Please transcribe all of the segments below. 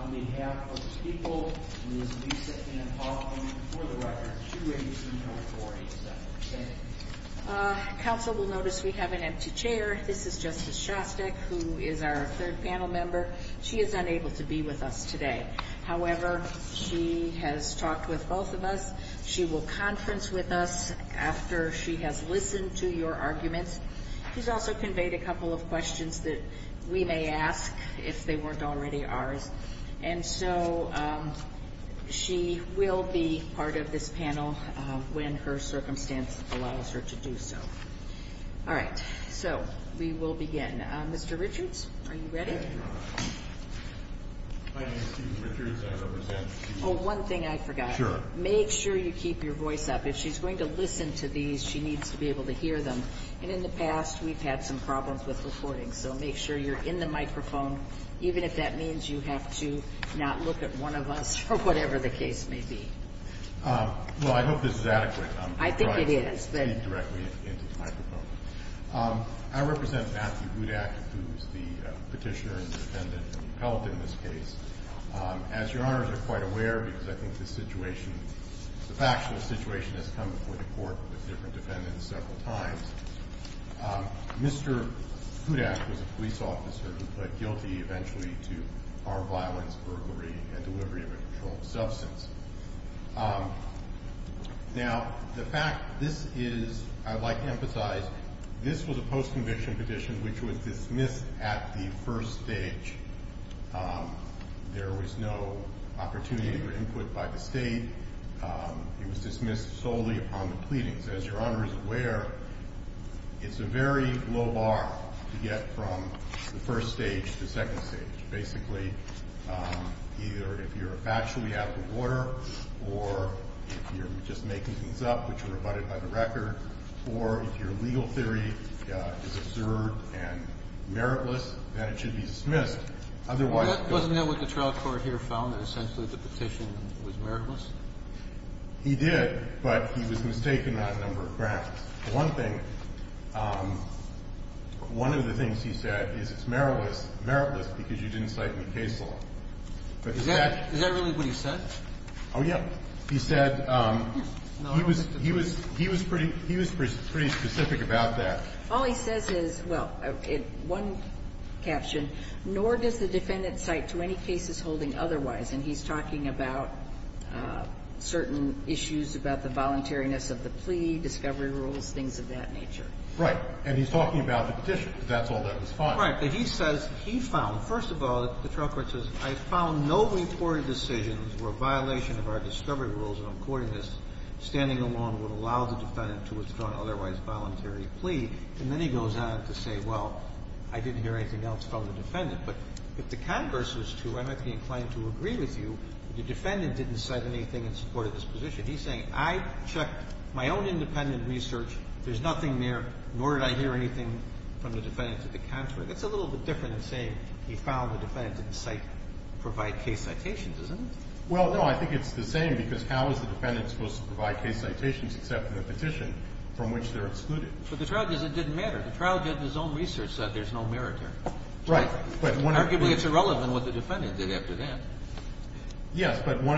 on behalf of the people, and this is Lisa Ann Hoffman for the record. Thank you very much, and I'm going to turn it over to Justice Shostak, who is our third panel member. She is unable to be with us today. However, she has talked with both of us. She will conference with us after she has listened to your arguments. She's also conveyed a couple of questions that we may ask, if they weren't already ours. And so she will be part of this panel when her circumstance allows her to do so. All right, so we will begin. Mr. Richards, are you ready? Oh, one thing I forgot. Sure. Make sure you keep your voice up. If she's going to listen to these, she needs to be able to hear them. And in the past, we've had some problems with recording. So make sure you're in the microphone, even if that means you have to not look at one of us, or whatever the case may be. Well, I hope this is adequate. I think it is. I represent Matthew Hudak, who is the petitioner and defendant in the appellate in this case. As Your Honors are quite aware, because I think the factual situation has come before the court with different defendants several times, Mr. Hudak was a police officer who pled guilty eventually to armed violence, burglary, and delivery of a controlled substance. Now, the fact this is, I'd like to emphasize, this was a post-conviction petition, which was dismissed at the first stage. There was no opportunity or input by the state. It was dismissed solely upon the pleadings. As Your Honors are aware, it's a very low bar to get from the first stage to the second stage. Basically, either if you're actually out of the water, or if you're just making things up, which were abutted by the record, or if your legal theory is absurd and meritless, then it should be dismissed. Otherwise, it goes to court. Well, wasn't that what the trial court here found, that essentially the petition was meritless? He did, but he was mistaken on a number of grounds. One thing, one of the things he said is it's meritless because you didn't cite any case law. Is that really what he said? Oh, yeah. He said he was pretty specific about that. All he says is, well, in one caption, nor does the defendant cite to any cases holding otherwise. And he's talking about certain issues about the voluntariness of the plea, discovery rules, things of that nature. Right. And he's talking about the petition. That's all that was found. Right. But he says he found, first of all, the trial court says, I found no recorded decisions where violation of our discovery rules, and I'm quoting this, standing alone would allow the defendant to withdraw an otherwise voluntary plea. And then he goes on to say, well, I didn't hear anything else from the defendant. But if the defendant didn't cite anything in support of this position, he's saying, I checked my own independent research, there's nothing there, nor did I hear anything from the defendant to the contrary. That's a little bit different than saying he found the defendant didn't cite or provide case citations, isn't it? Well, no. I think it's the same, because how is the defendant supposed to provide case citations except in a petition from which they're excluded? But the trial judge said it didn't matter. The trial judge in his own research said there's no merit there. Yes. But one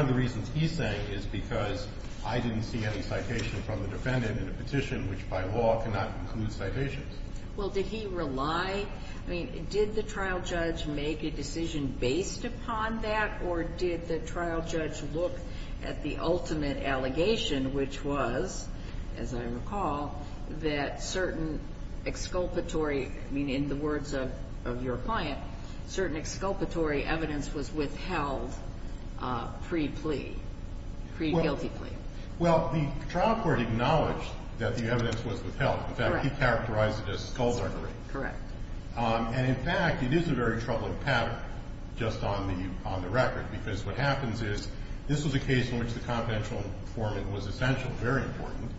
of the reasons he's saying is because I didn't see any citation from the defendant in a petition which by law cannot include citations. Well, did he rely? I mean, did the trial judge make a decision based upon that, or did the trial judge look at the ultimate allegation, which was, as I recall, that certain exculpatory, I mean, in the words of your client, certain exculpatory evidence was withheld pre-plea, pre-guilty plea? Well, the trial court acknowledged that the evidence was withheld. In fact, he characterized it as scullgery. Correct. And, in fact, it is a very troubling pattern just on the record, because what happens is this was a case in which the confidential informant was essential, very important.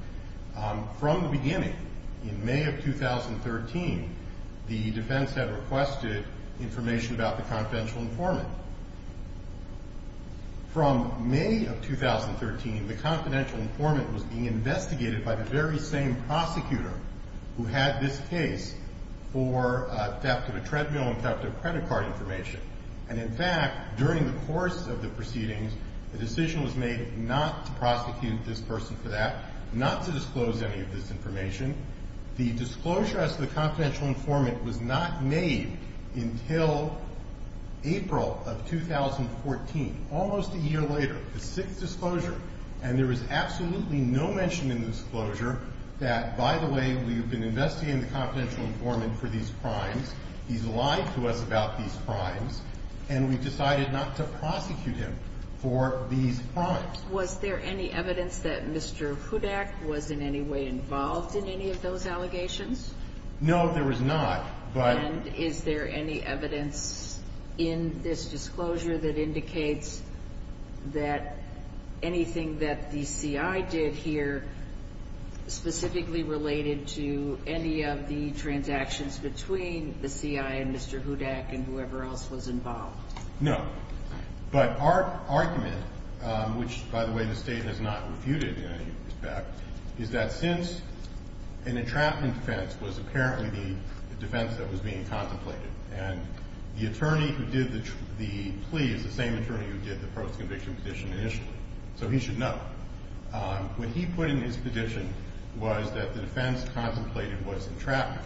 From the beginning, in May of 2013, the defense had requested information about the confidential informant. From May of 2013, the confidential informant was being investigated by the very same prosecutor who had this case for theft of a treadmill and theft of credit card information. And, in fact, during the course of the proceedings, a decision was made not to prosecute this person for that, not to disclose any of this information. The disclosure as to the confidential informant was not made until April of 2014, almost a year later, the sixth disclosure. And there was absolutely no mention in the disclosure that, by the way, we have been investigating the confidential informant for these crimes, he's lied to us about these crimes, and we've decided not to prosecute him for these crimes. Was there any evidence that Mr. Hudak was in any way involved in any of those allegations? No, there was not. But And is there any evidence in this disclosure that indicates that anything that the CI did here specifically related to any of the transactions between the CI and Mr. Hudak and whoever else was involved? No. But our argument, which, by the way, the State has not refuted in any respect, is that since an entrapment defense was apparently the defense that was being contemplated, and the attorney who did the plea is the same attorney who did the post-conviction petition initially, so he should know. What he put in his petition was that the defense contemplated was entrapment.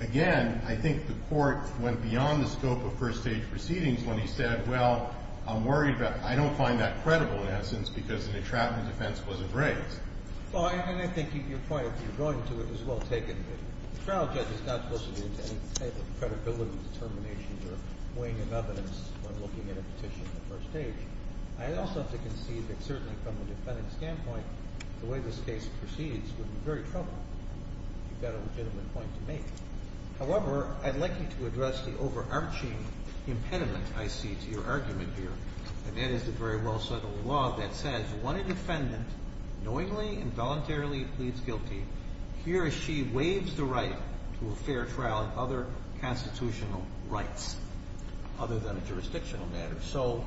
Again, I think the Court went beyond the scope of first-stage proceedings when he said, well, I'm worried about – I don't find that credible in essence because an entrapment defense wasn't raised. Well, and I think your point, if you're going to it, is well taken. The trial judge is not supposed to do any type of credibility determination or weighing of evidence when looking at a petition at first stage. I also have to concede that certainly from a defendant's standpoint, the way this case proceeds would be very troubling if you've got a legitimate point to make. However, I'd like you to address the overarching impediment I see to your argument here, and that is the very well settled law that says when a defendant knowingly and voluntarily pleads guilty, he or she waives the right to a fair trial and other constitutional rights, other than a jurisdictional matter. So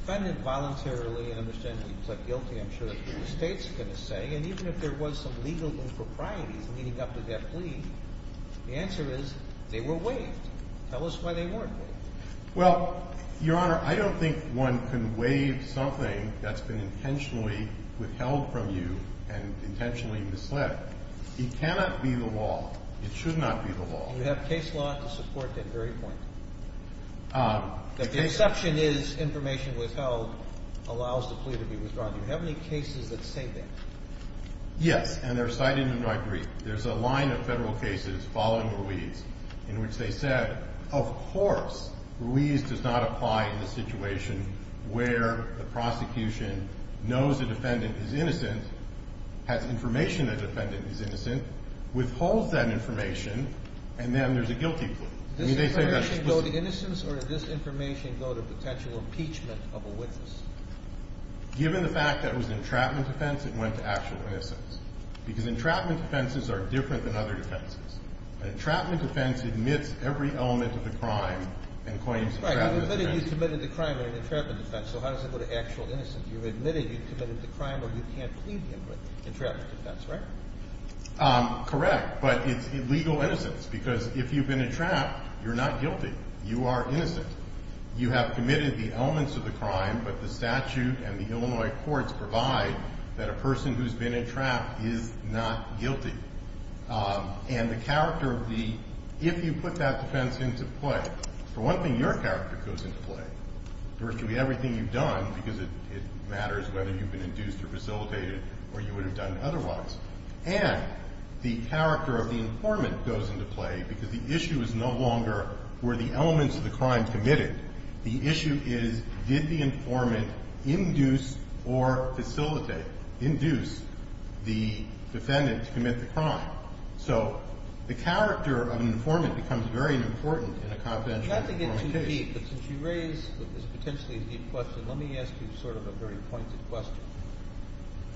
defendant voluntarily and understandably pled guilty, I'm sure the State's going to say, and even if there was some legal impropriety leading up to that plea, the answer is they were waived. Tell us why they weren't waived. Well, Your Honor, I don't think one can waive something that's been intentionally withheld from you and intentionally misled. It cannot be the law. It should not be the law. Do you have case law to support that very point? The exception is information withheld allows the plea to be withdrawn. Do you have any cases that say that? Yes, and they're cited in my brief. There's a line of Federal cases following Ruiz in which they said, of course, Ruiz does not apply in the situation where the prosecution knows the defendant is innocent, has information the defendant is innocent, withholds that information, and then there's a guilty plea. Did this information go to innocence or did this information go to potential impeachment of a witness? Given the fact that it was an entrapment defense, it went to actual innocence because entrapment defenses are different than other defenses. An entrapment defense admits every element of the crime and claims entrapment defense. Right. You've admitted you've committed the crime in an entrapment defense, so how does it go to actual innocence? You've admitted you've committed the crime or you can't plead the entrapment defense, right? Correct, but it's illegal innocence because if you've been entrapped, you're not guilty. The statute and the Illinois courts provide that a person who's been entrapped is not guilty. And the character of the, if you put that defense into play, for one thing, your character goes into play. Virtually everything you've done, because it matters whether you've been induced or facilitated or you would have done otherwise, and the character of the informant goes into play because the issue is no longer were the elements of the crime committed? The issue is did the informant induce or facilitate, induce the defendant to commit the crime? So the character of an informant becomes very important in a confidential case. Not to get too deep, but since you raised what is potentially a deep question, let me ask you sort of a very pointed question.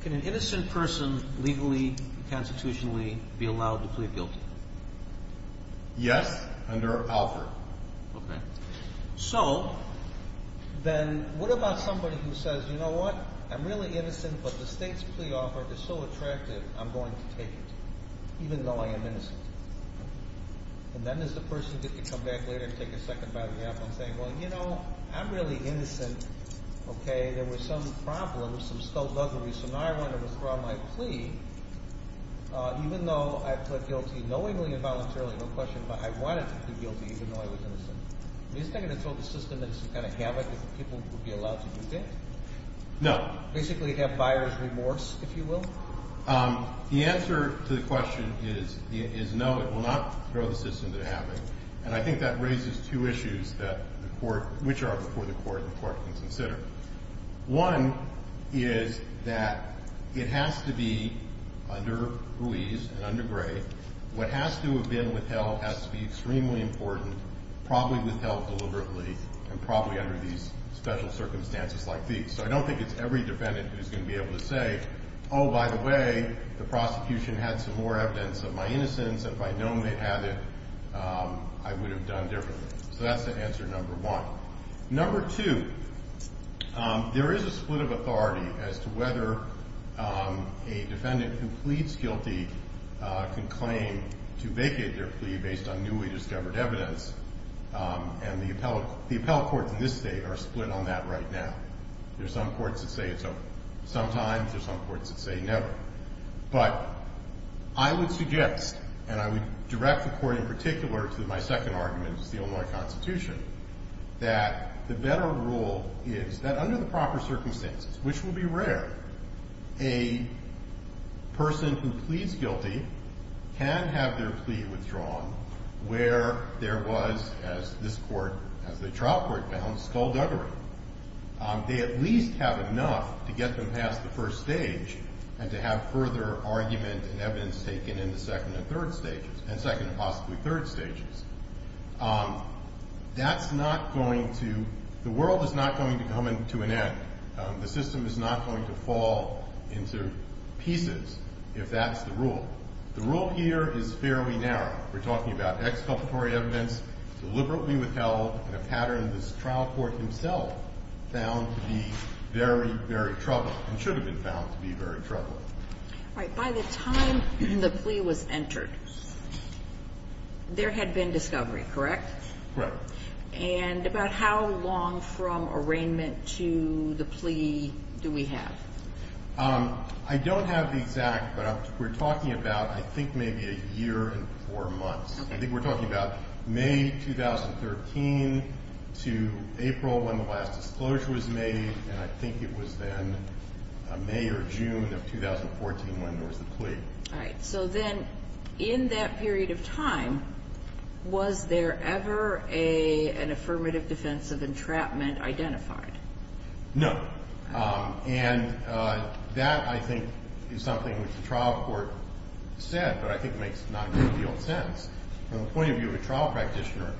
Can an innocent person legally, constitutionally, be allowed to plead guilty? Yes, under Alfred. Okay. So then what about somebody who says, you know what? I'm really innocent, but the state's plea offer is so attractive, I'm going to take it, even though I am innocent. And then does the person get to come back later and take a second bite of the apple and say, well, you know, I'm really innocent, okay? There were some problems, some stuttering, so now I want to withdraw my plea, even though I pled guilty knowingly and voluntarily, no question, but I wanted to plead guilty even though I was innocent. Is there going to throw the system into some kind of havoc if people would be allowed to do that? No. Basically have buyer's remorse, if you will? The answer to the question is no, it will not throw the system into havoc, and I think that raises two issues that the court, which are before the court, the court can consider. One is that it has to be under Ruiz and under Gray. What has to have been withheld has to be extremely important, probably withheld deliberately, and probably under these special circumstances like these. So I don't think it's every defendant who's going to be able to say, oh, by the way, the prosecution had some more evidence of my innocence. If I'd known they had it, I would have done differently. So that's the answer, number one. Number two, there is a split of authority as to whether a defendant who pleads guilty can claim to vacate their plea based on newly discovered evidence, and the appellate courts in this state are split on that right now. There's some courts that say it's a sometimes, there's some courts that say never. But I would suggest, and I would direct the court in particular to my second argument, which is the Illinois Constitution, that the better rule is that under the proper can have their plea withdrawn where there was, as this court, as the trial court found, skullduggery. They at least have enough to get them past the first stage and to have further argument and evidence taken in the second and third stages, and second and possibly third stages. That's not going to, the world is not going to come to an end. The system is not going to fall into pieces if that is the rule. The rule here is fairly narrow. We're talking about exculpatory evidence deliberately withheld in a pattern this trial court himself found to be very, very troubling and should have been found to be very troubling. All right. By the time the plea was entered, there had been discovery, correct? Correct. And about how long from arraignment to the plea do we have? I don't have the exact, but we're talking about I think maybe a year and four months. Okay. I think we're talking about May 2013 to April when the last disclosure was made, and I think it was then May or June of 2014 when there was the plea. All right. So then in that period of time, was there ever an affirmative defense of entrapment identified? No. And that, I think, is something which the trial court said, but I think makes not great deal of sense. From the point of view of a trial practitioner,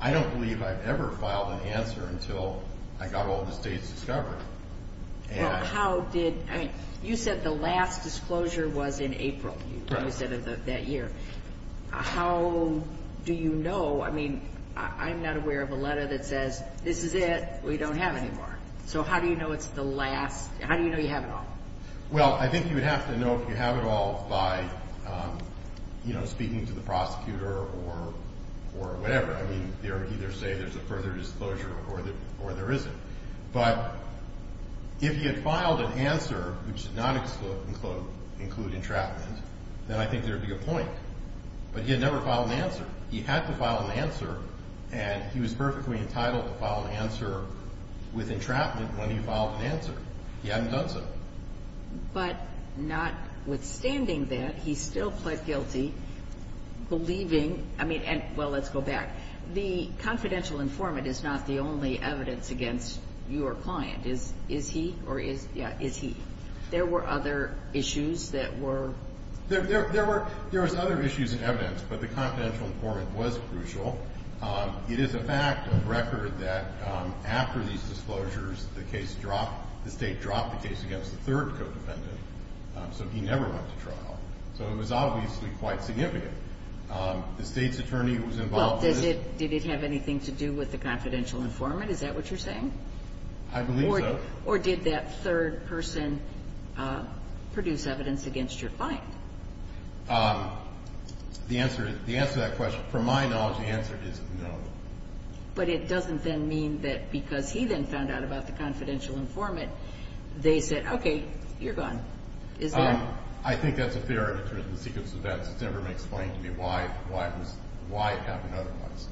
I don't believe I've ever filed an answer until I got all of the state's discovery. Well, how did, I mean, you said the last disclosure was in April. Right. You probably said of that year. How do you know, I mean, I'm not aware of a last, how do you know you have it all? Well, I think you would have to know if you have it all by, you know, speaking to the prosecutor or whatever. I mean, they would either say there's a further disclosure or there isn't. But if he had filed an answer which did not include entrapment, then I think there would be a point. But he had never filed an answer. He had to file an answer, and he was perfectly entitled to file an answer with entrapment when he filed an answer. He hadn't done so. But notwithstanding that, he still pled guilty, believing, I mean, and well, let's go back. The confidential informant is not the only evidence against your client. Is he or is, yeah, is he? There were other issues that were. There were, there was other issues in evidence, but the confidential informant was crucial. It is a fact of record that after these disclosures, the case dropped, the State dropped the case against the third co-defendant. So he never went to trial. So it was obviously quite significant. The State's attorney who was involved with it. Well, did it have anything to do with the confidential informant? Is that what you're saying? I believe so. Or did that third person produce evidence against your client? The answer to that question, from my knowledge, the answer is no. But it doesn't then mean that because he then found out about the confidential informant, they said, okay, you're gone. Is that? I think that's a fair argument in the sequence of events. It's never been explained to me why it happened otherwise.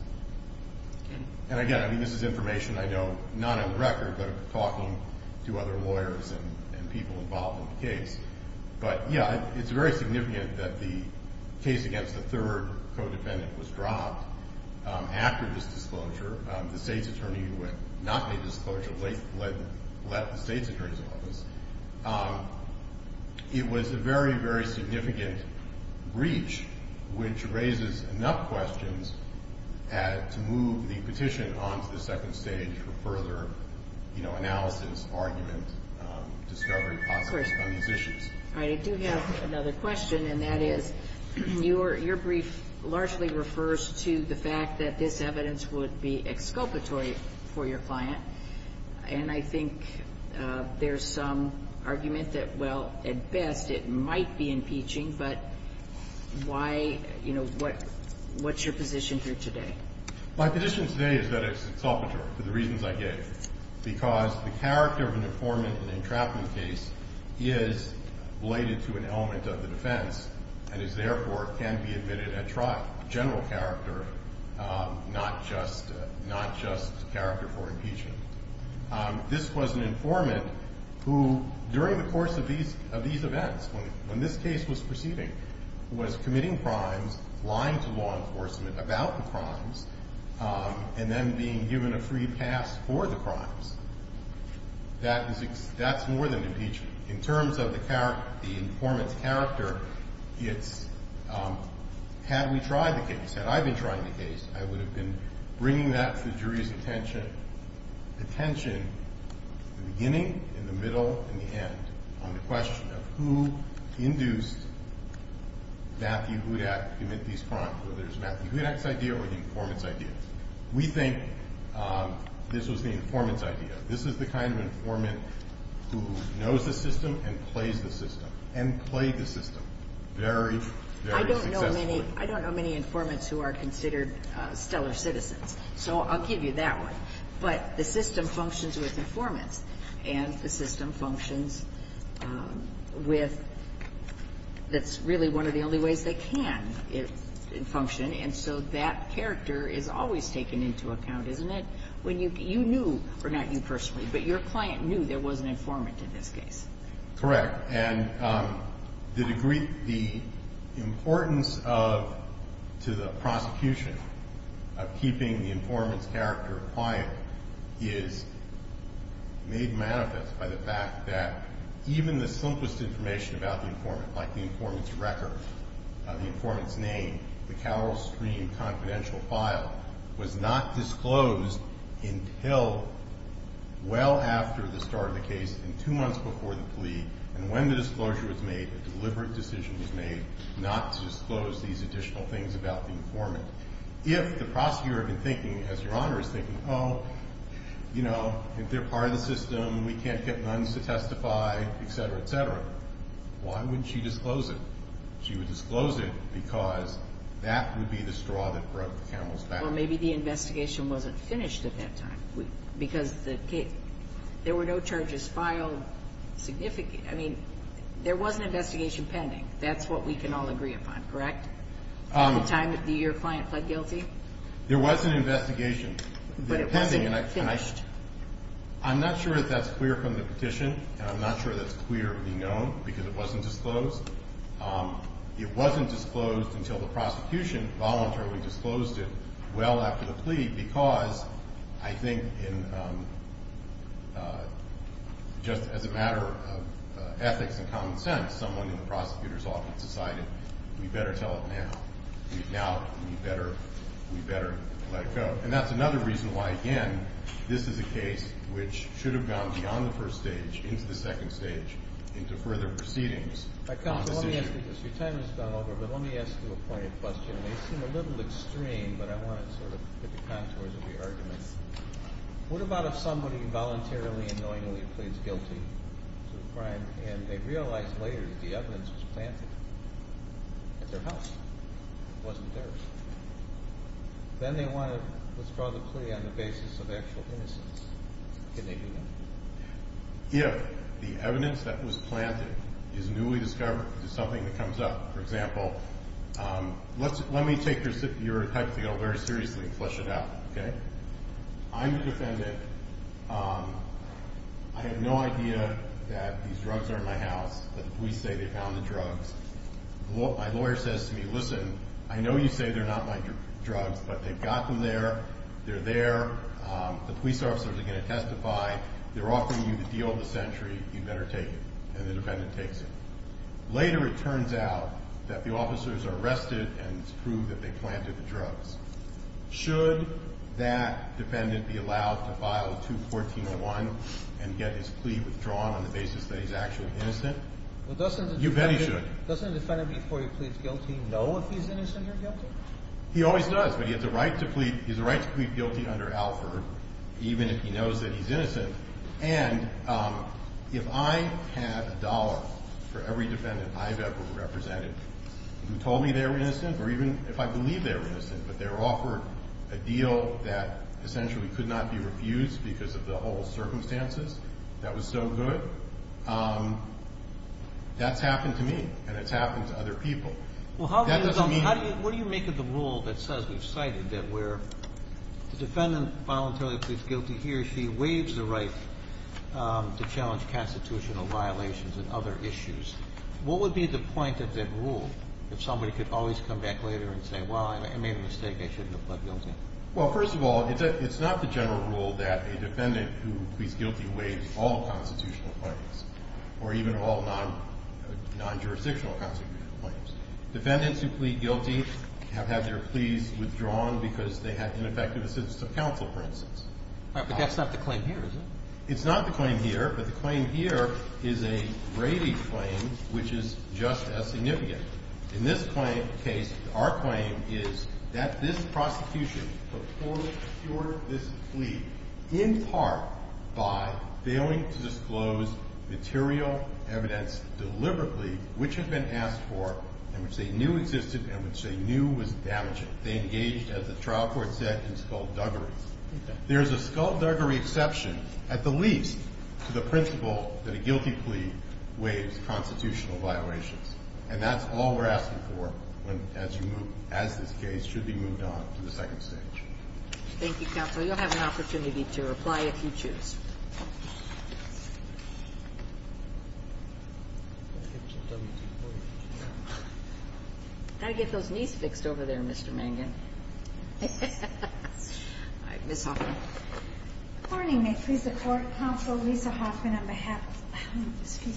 And again, I mean, this is information I know, not on record, but talking to other lawyers and people involved in the case. But, yeah, it's very significant that the case against the third co-defendant was dropped after this disclosure. The State's attorney who had not made the disclosure let the State's attorney's office. It was a very, very significant breach, which raises enough questions to move the petition on to the second stage for further analysis, argument, discovery process on these issues. All right. I do have another question, and that is, your brief largely refers to the fact that this evidence would be exculpatory for your client. And I think there's some argument that, well, at best it might be impeaching, but why, you know, what's your position here today? My position today is that it's exculpatory for the reasons I gave, because the evidence is related to an element of the defense and is, therefore, can be admitted at trial. General character, not just character for impeachment. This was an informant who, during the course of these events, when this case was proceeding, was committing crimes, lying to law enforcement about the crimes, and then being given a free pass for the crimes. That's more than impeachment. In terms of the informant's character, it's, had we tried the case, had I been trying the case, I would have been bringing that to the jury's attention at the beginning, in the middle, and the end on the question of who induced Matthew Hudak to commit these crimes, whether it's Matthew Hudak's idea or the informant's idea. We think this was the informant's idea. This is the kind of informant who knows the system and plays the system, and played the system very, very successfully. I don't know many informants who are considered stellar citizens, so I'll give you that one. But the system functions with informants, and the system functions with, that's really one of the only ways they can function, and so that character is always taken into account, isn't it? When you, you knew, or not you personally, but your client knew there was an informant in this case. Correct. And the degree, the importance of, to the prosecution of keeping the informant's character quiet is made manifest by the fact that even the simplest information about the informant, like the informant's record, the informant's name, the informant's name, was not disclosed until well after the start of the case, in two months before the plea, and when the disclosure was made, a deliberate decision was made not to disclose these additional things about the informant. If the prosecutor had been thinking, as Your Honor is thinking, oh, you know, if they're part of the system, we can't get nuns to testify, et cetera, et cetera, why wouldn't she disclose it? She would disclose it because that would be the straw that broke the camel's back. Well, maybe the investigation wasn't finished at that time, because the case, there were no charges filed significant, I mean, there was an investigation pending. That's what we can all agree upon, correct? All the time that your client pled guilty? There was an investigation. But it wasn't finished. I'm not sure if that's clear from the petition, and I'm not sure that's clear to be known, because it wasn't disclosed. It wasn't disclosed until the prosecution voluntarily disclosed it well after the plea, because I think just as a matter of ethics and common sense, someone in the prosecutor's office decided we better tell it now. Now we better let it go. And that's another reason why, again, this is a case which should have gone beyond the first stage into the second stage, into further proceedings. Your time has gone over, but let me ask you a pointed question. It may seem a little extreme, but I want to sort of get the contours of your argument. What about if somebody voluntarily and knowingly pleads guilty to a crime, and they realize later that the evidence was planted at their house? It wasn't theirs. Then they want to withdraw the plea on the basis of actual innocence, can they do that? If the evidence that was planted is newly discovered, there's something that comes up. For example, let me take your hypothetical very seriously and flesh it out. Okay? I'm the defendant. I have no idea that these drugs are in my house, but the police say they found the drugs. My lawyer says to me, listen, I know you say they're not my drugs, but they've got them there, they're there. The police officers are going to testify. They're offering you the deal of the century. You better take it. And the defendant takes it. Later it turns out that the officers are arrested and it's proved that they planted the drugs. Should that defendant be allowed to file 214-01 and get his plea withdrawn on the basis that he's actually innocent? You bet he should. Doesn't the defendant before he pleads guilty know if he's innocent or guilty? He always does, but he has a right to plead. He can plead guilty under Alford even if he knows that he's innocent. And if I had a dollar for every defendant I've ever represented who told me they were innocent or even if I believe they were innocent but they were offered a deal that essentially could not be refused because of the whole circumstances, that was so good, that's happened to me and it's happened to other people. Well, what do you make of the rule that says we've cited that where the defendant voluntarily pleads guilty, he or she waives the right to challenge constitutional violations and other issues? What would be the point of that rule if somebody could always come back later and say, well, I made a mistake, I shouldn't have pled guilty? Well, first of all, it's not the general rule that a defendant who pleads guilty waives all constitutional claims or even all non-jurisdictional constitutional claims. Defendants who plead guilty have had their pleas withdrawn because they had ineffective assistance of counsel, for instance. But that's not the claim here, is it? It's not the claim here, but the claim here is a Brady claim which is just as significant. In this case, our claim is that this prosecution performed this plea in part by which they knew existed and which they knew was damaging. They engaged, as the trial court said, in skullduggery. There is a skullduggery exception, at the least, to the principle that a guilty plea waives constitutional violations. And that's all we're asking for as you move as this case should be moved on to the second stage. Thank you, counsel. You'll have an opportunity to reply if you choose. I've got to get those knees fixed over there, Mr. Mangan. All right. Ms. Hoffman. Good morning. May it please the Court. Counsel Lisa Hoffman on behalf of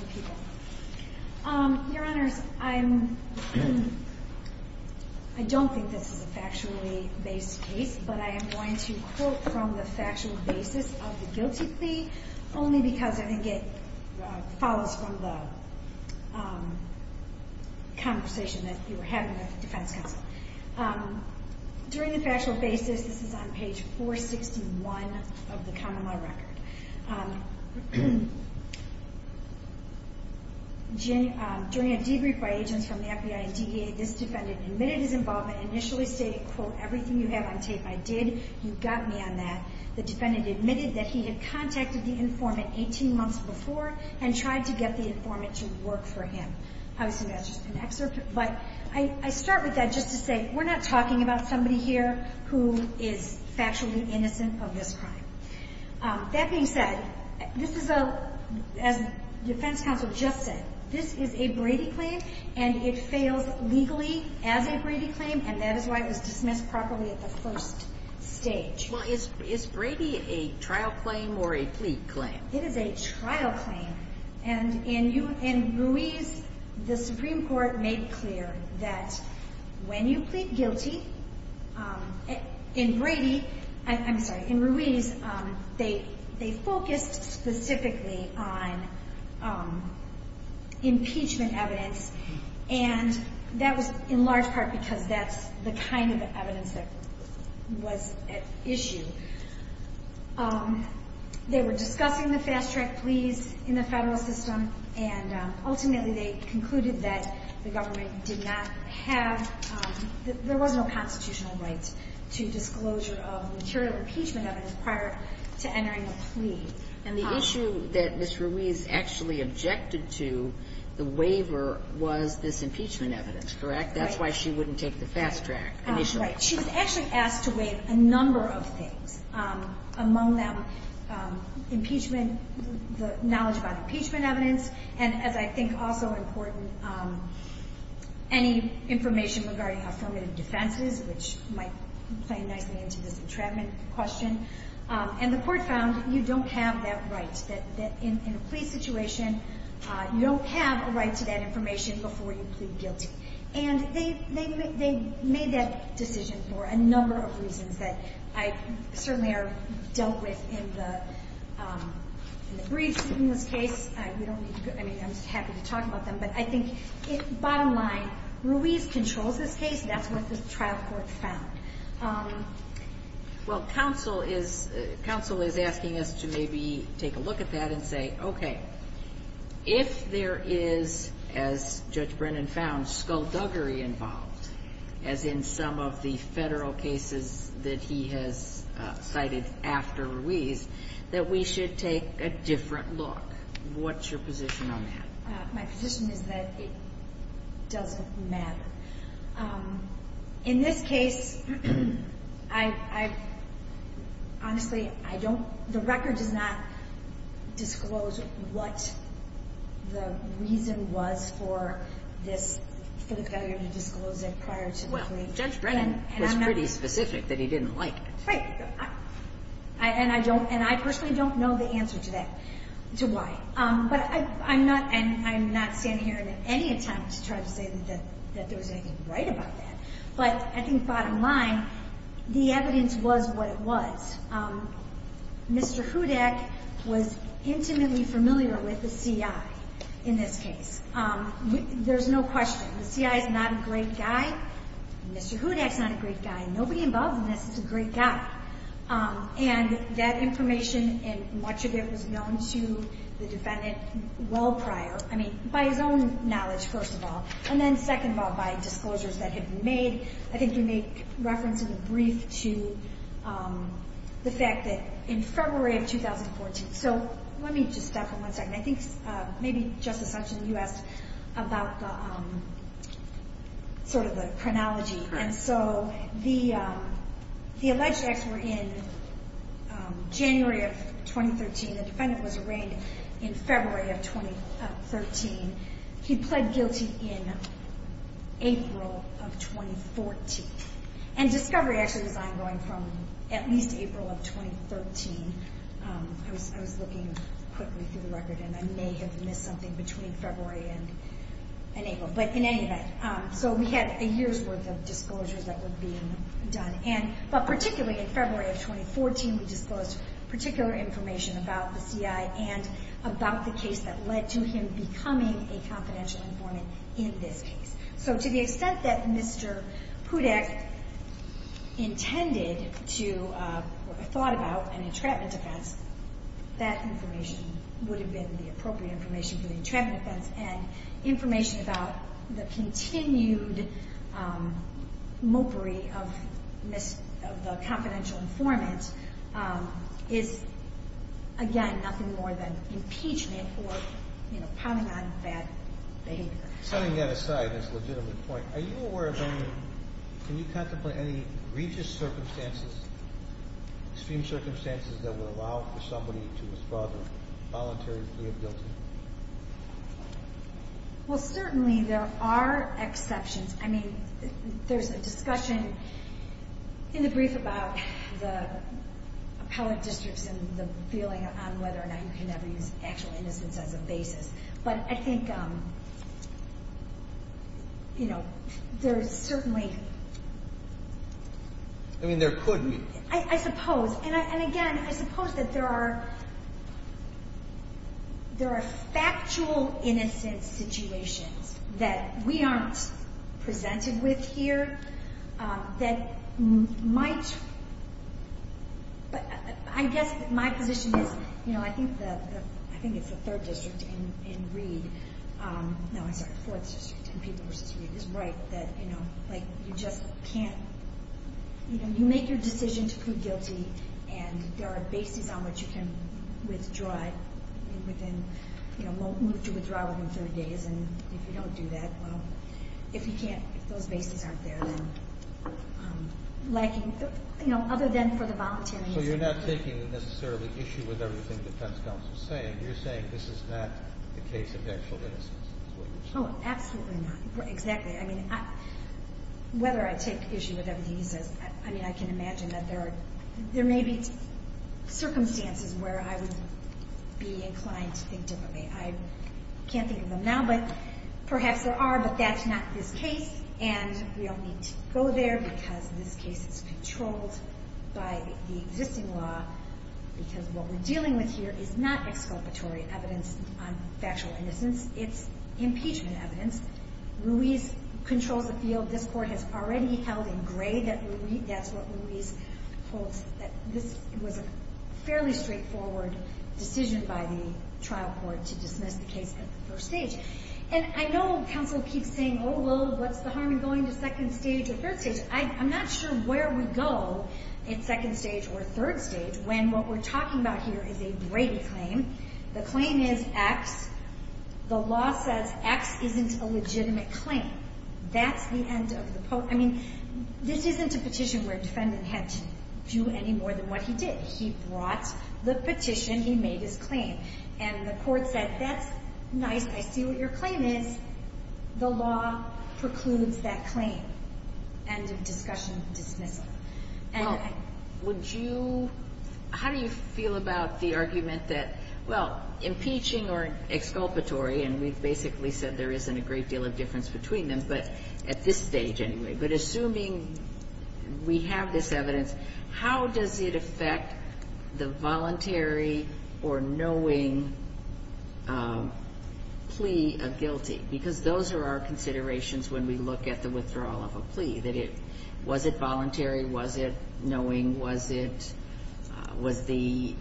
the people. Your Honors, I don't think this is a factually based case, but I am going to quote from the factual basis of the guilty plea only because I think it follows from the conversation that you were having with the defense counsel. During the factual basis, this is on page 461 of the common law record. During a debrief by agents from the FBI and DEA, this defendant admitted his involvement, initially stating, quote, everything you have on tape I did. You got me on that. The defendant admitted that he had contacted the informant 18 months before and tried to get the informant to work for him. Obviously, that's just an excerpt. But I start with that just to say we're not talking about somebody here who is factually innocent of this crime. That being said, this is a, as the defense counsel just said, this is a Brady claim, and it fails legally as a Brady claim, and that is why it was dismissed properly at the first stage. Well, is Brady a trial claim or a plea claim? It is a trial claim. And in Ruiz, the Supreme Court made clear that when you plead guilty, in Brady, I'm sorry, in Ruiz, they focused specifically on impeachment evidence, and that was in large part because that's the kind of evidence that was at issue. They were discussing the fast-track pleas in the federal system, and ultimately they concluded that the government did not have, there was no constitutional right to disclosure of material impeachment evidence prior to entering a plea. And the issue that Ms. Ruiz actually objected to, the waiver, was this impeachment evidence, correct? That's why she wouldn't take the fast track initially. Right. She was actually asked to waive a number of things, among them impeachment, the knowledge about impeachment evidence, and as I think also important, any information regarding affirmative defenses, which might play nicely into this entrapment question. And the court found you don't have that right. That in a plea situation, you don't have a right to that information before you And they made that decision for a number of reasons that I certainly have dealt with in the briefs in this case. I mean, I'm happy to talk about them, but I think bottom line, Ruiz controls this case. That's what the trial court found. Well, counsel is asking us to maybe take a look at that and say, okay, if there is, as Judge Brennan found, skullduggery involved, as in some of the federal cases that he has cited after Ruiz, that we should take a different look. What's your position on that? My position is that it doesn't matter. In this case, I honestly, I don't, the record does not disclose what the reason was for this, for the failure to disclose it prior to the plea. Well, Judge Brennan was pretty specific that he didn't like it. Right. And I don't, and I personally don't know the answer to that, to why. But I'm not, and I'm not standing here at any time to try to say that there was anything right about that. But I think bottom line, the evidence was what it was. Mr. Hudak was intimately familiar with the CI in this case. There's no question. The CI is not a great guy. Mr. Hudak's not a great guy. Nobody involved in this is a great guy. And that information and much of it was known to the defendant well prior, I mean, by his own knowledge, first of all. And then second of all, by disclosures that had been made. I think you make reference in the brief to the fact that in February of 2014, so let me just stop for one second. I think maybe Justice Hutchins, you asked about sort of the chronology. And so the alleged acts were in January of 2013. The defendant was arraigned in February of 2013. He pled guilty in April of 2014. And discovery actually was ongoing from at least April of 2013. I was looking quickly through the record, and I may have missed something between February and April. But in any event, so we had a year's worth of disclosures that were being done. But particularly in February of 2014, we disclosed particular information about the CI and about the case that led to him becoming a confidential informant in this case. So to the extent that Mr. Hudak intended to or thought about an entrapment offense, that information would have been the appropriate information for the entrapment offense and information about the continued mokery of the confidential informant is, again, nothing more than impeachment or, you know, probably not bad behavior. Setting that aside, that's a legitimate point. Are you aware of any ñ can you contemplate any egregious circumstances, extreme circumstances that would allow for somebody to withdraw their voluntary plea of guilty? Well, certainly there are exceptions. I mean, there's a discussion in the brief about the appellate districts and the feeling on whether or not you can ever use actual innocence as a basis. But I think, you know, there is certainly ñ I mean, there could be. I suppose. And, again, I suppose that there are factual innocence situations that we aren't presented with here that might ñ I guess my position is, you know, I think it's the third district in Reed. No, I'm sorry, the fourth district in Peter versus Reed is right that, you know, like you just can't ñ you know, you make your decision to plead guilty and there are bases on which you can withdraw it within, you know, won't move to withdraw within 30 days. And if you don't do that, well, if you can't, if those bases aren't there, then lacking, you know, other than for the volunteering. So you're not taking necessarily the issue with everything the defense counsel is saying. You're saying this is not the case of actual innocence. Oh, absolutely not, exactly. I mean, whether I take issue with everything he says ñ I mean, I can imagine that there are ñ there may be circumstances where I would be inclined to think differently. I can't think of them now, but perhaps there are. But that's not this case, and we don't need to go there because this case is controlled by the existing law because what we're dealing with here is not exculpatory evidence on factual innocence. It's impeachment evidence. Ruiz controls the field. This Court has already held in gray that that's what Ruiz holds, that this was a fairly straightforward decision by the trial court to dismiss the case at the first stage. And I know counsel keeps saying, oh, well, what's the harm in going to second stage or third stage? I'm not sure where we go in second stage or third stage when what we're talking about here is a Brady claim. The claim is X. The law says X isn't a legitimate claim. That's the end of the ñ I mean, this isn't a petition where a defendant had to do any more than what he did. He brought the petition. He made his claim. And the Court said, that's nice. I see what your claim is. The law precludes that claim. End of discussion. Dismissal. Well, would you ñ how do you feel about the argument that ñ well, impeaching or exculpatory, and we've basically said there isn't a great deal of difference between them, but at this stage anyway. But assuming we have this evidence, how does it affect the voluntary or knowing plea of guilty? Because those are our considerations when we look at the withdrawal of a plea, that it ñ was it voluntary? Was it knowing? Was it ñ was the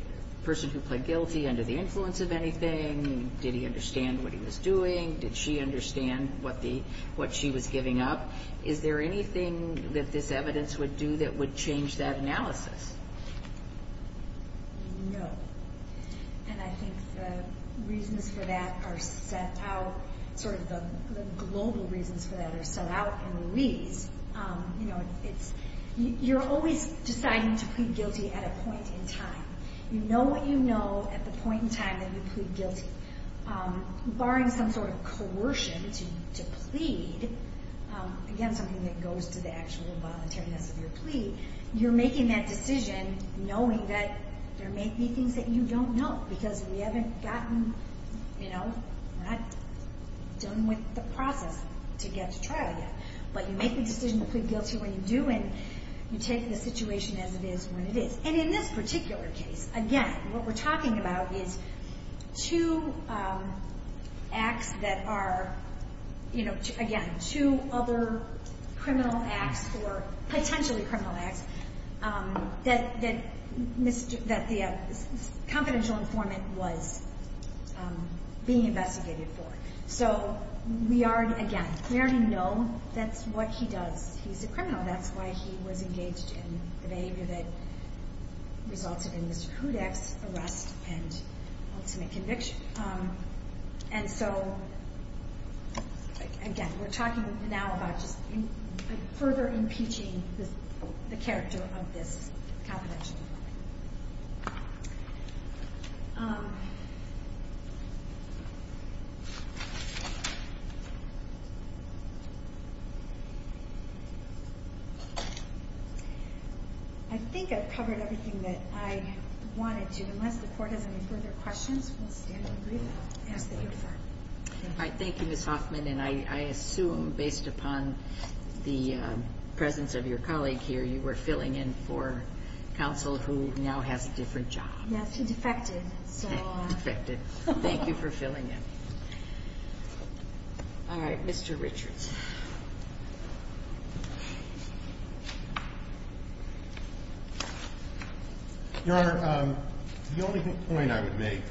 person who pled guilty under the influence of anything? Did he understand what he was doing? Did she understand what she was giving up? Is there anything that this evidence would do that would change that analysis? No. And I think the reasons for that are set out ñ sort of the global reasons for that are set out in Louise. You know, it's ñ you're always deciding to plead guilty at a point in time. You know what you know at the point in time that you plead guilty. Barring some sort of coercion to plead, again, something that goes to the actual voluntariness of your plea, you're making that decision knowing that there may be things that you don't know because we haven't gotten, you know ñ we're not done with the process to get to trial yet. But you make the decision to plead guilty when you do, and you take the situation as it is when it is. And in this particular case, again, what we're talking about is two acts that are ñ you know, again, two other criminal acts or potentially criminal acts that the confidential informant was being investigated for. So we are ñ again, we already know that's what he does. He's a criminal. That's why he was engaged in the behavior that resulted in Mr. Hudak's arrest and ultimate conviction. And so, again, we're talking now about just further impeaching the character of this confidential informant. I think I've covered everything that I wanted to. And unless the Court has any further questions, we'll stand and read them. Yes, ma'am. All right. Thank you, Ms. Hoffman. And I assume, based upon the presence of your colleague here, you were filling in for counsel who now has a different job. Yes. He defected. Defected. Thank you for filling in. All right. Mr. Richards. Your Honor, the only point I would make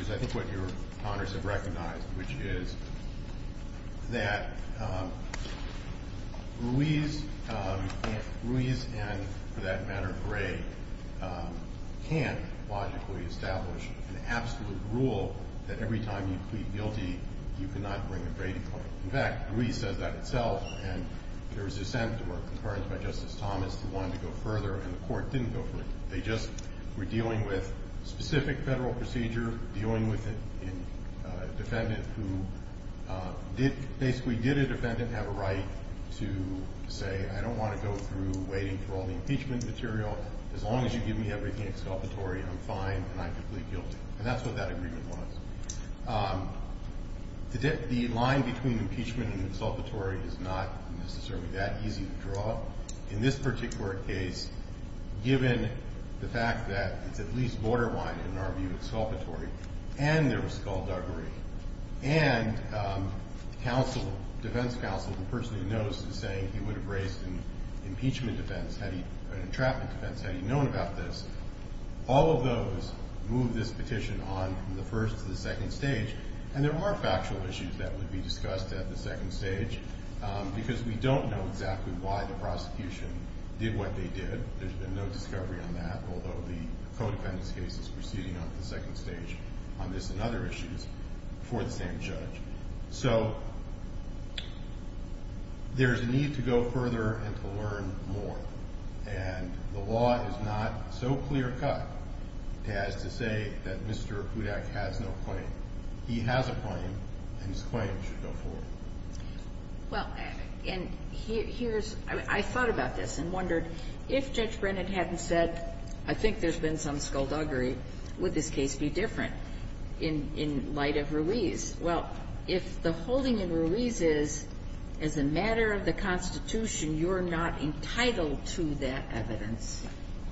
is, I think, what your Honors have recognized, which is that Ruiz and, for that matter, Gray can't logically establish an absolute rule that every time you plead guilty, you cannot bring a Brady claim. And there was dissent or concurrence by Justice Thomas who wanted to go further, and the Court didn't go further. They just were dealing with a specific federal procedure, dealing with a defendant who basically did a defendant have a right to say, I don't want to go through waiting for all the impeachment material. As long as you give me everything exculpatory, I'm fine and I plead guilty. And that's what that agreement was. The line between impeachment and exculpatory is not necessarily that easy to draw. In this particular case, given the fact that it's at least borderline, in our view, exculpatory, and there was skullduggery, and defense counsel, the person who knows, is saying he would have raised an impeachment defense, an entrapment defense, had he known about this. All of those move this petition on from the first to the second stage. And there are factual issues that would be discussed at the second stage, because we don't know exactly why the prosecution did what they did. There's been no discovery on that, although the co-defendant's case is proceeding on to the second stage on this and other issues before the same judge. So there's a need to go further and to learn more. And the law is not so clear-cut as to say that Mr. Kudak has no claim. He has a claim, and his claim should go forward. Well, and here's – I thought about this and wondered, if Judge Brennan hadn't said, I think there's been some skullduggery, would this case be different in light of Ruiz? Well, if the holding in Ruiz is, as a matter of the Constitution, you're not entitled to that evidence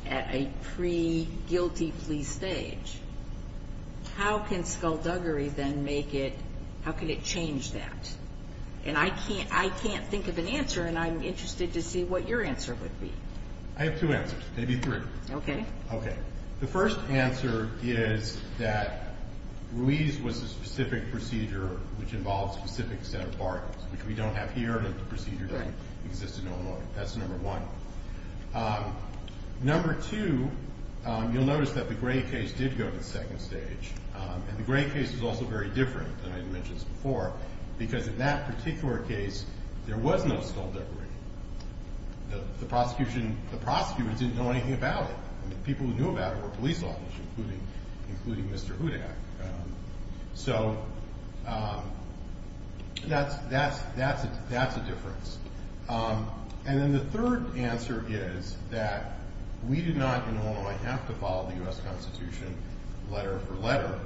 at a pre-guilty plea stage, how can skullduggery then make it – how can it change that? And I can't think of an answer, and I'm interested to see what your answer would be. I have two answers, maybe three. Okay. Okay. The first answer is that Ruiz was a specific procedure which involves specific set of bargains, which we don't have here in the procedure that exists in Illinois. That's number one. Number two, you'll notice that the Gray case did go to the second stage, and the Gray case is also very different than I mentioned before because in that particular case there was no skullduggery. The prosecution – the prosecutors didn't know anything about it. The people who knew about it were police officers, including Mr. Hudak. So that's a difference. And then the third answer is that we do not in Illinois have to follow the U.S. Constitution letter for letter.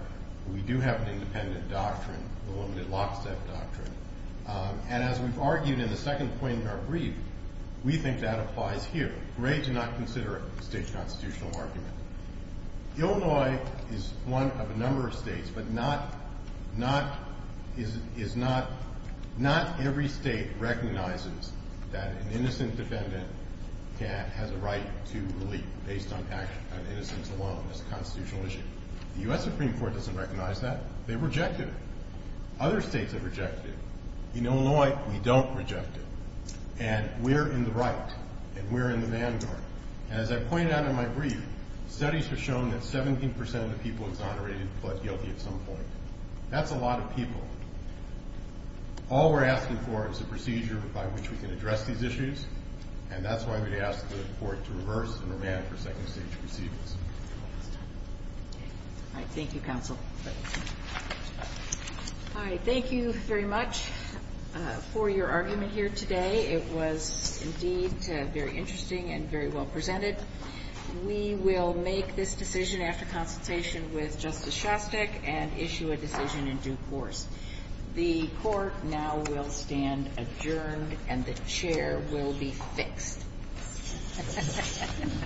We do have an independent doctrine, the limited lockstep doctrine. And as we've argued in the second point in our brief, we think that applies here. Gray did not consider it a state constitutional argument. Illinois is one of a number of states, but not every state recognizes that an innocent defendant has a right to relief based on innocence alone as a constitutional issue. The U.S. Supreme Court doesn't recognize that. They rejected it. Other states have rejected it. In Illinois, we don't reject it. And we're in the right, and we're in the vanguard. And as I pointed out in my brief, studies have shown that 17 percent of the people exonerated pled guilty at some point. That's a lot of people. All we're asking for is a procedure by which we can address these issues, and that's why we asked the court to reverse and remand for second stage proceedings. All right. Thank you, counsel. All right. Thank you very much for your argument here today. It was, indeed, very interesting and very well presented. We will make this decision after consultation with Justice Shostak and issue a decision in due course. The court now will stand adjourned, and the chair will be fixed. Thank you.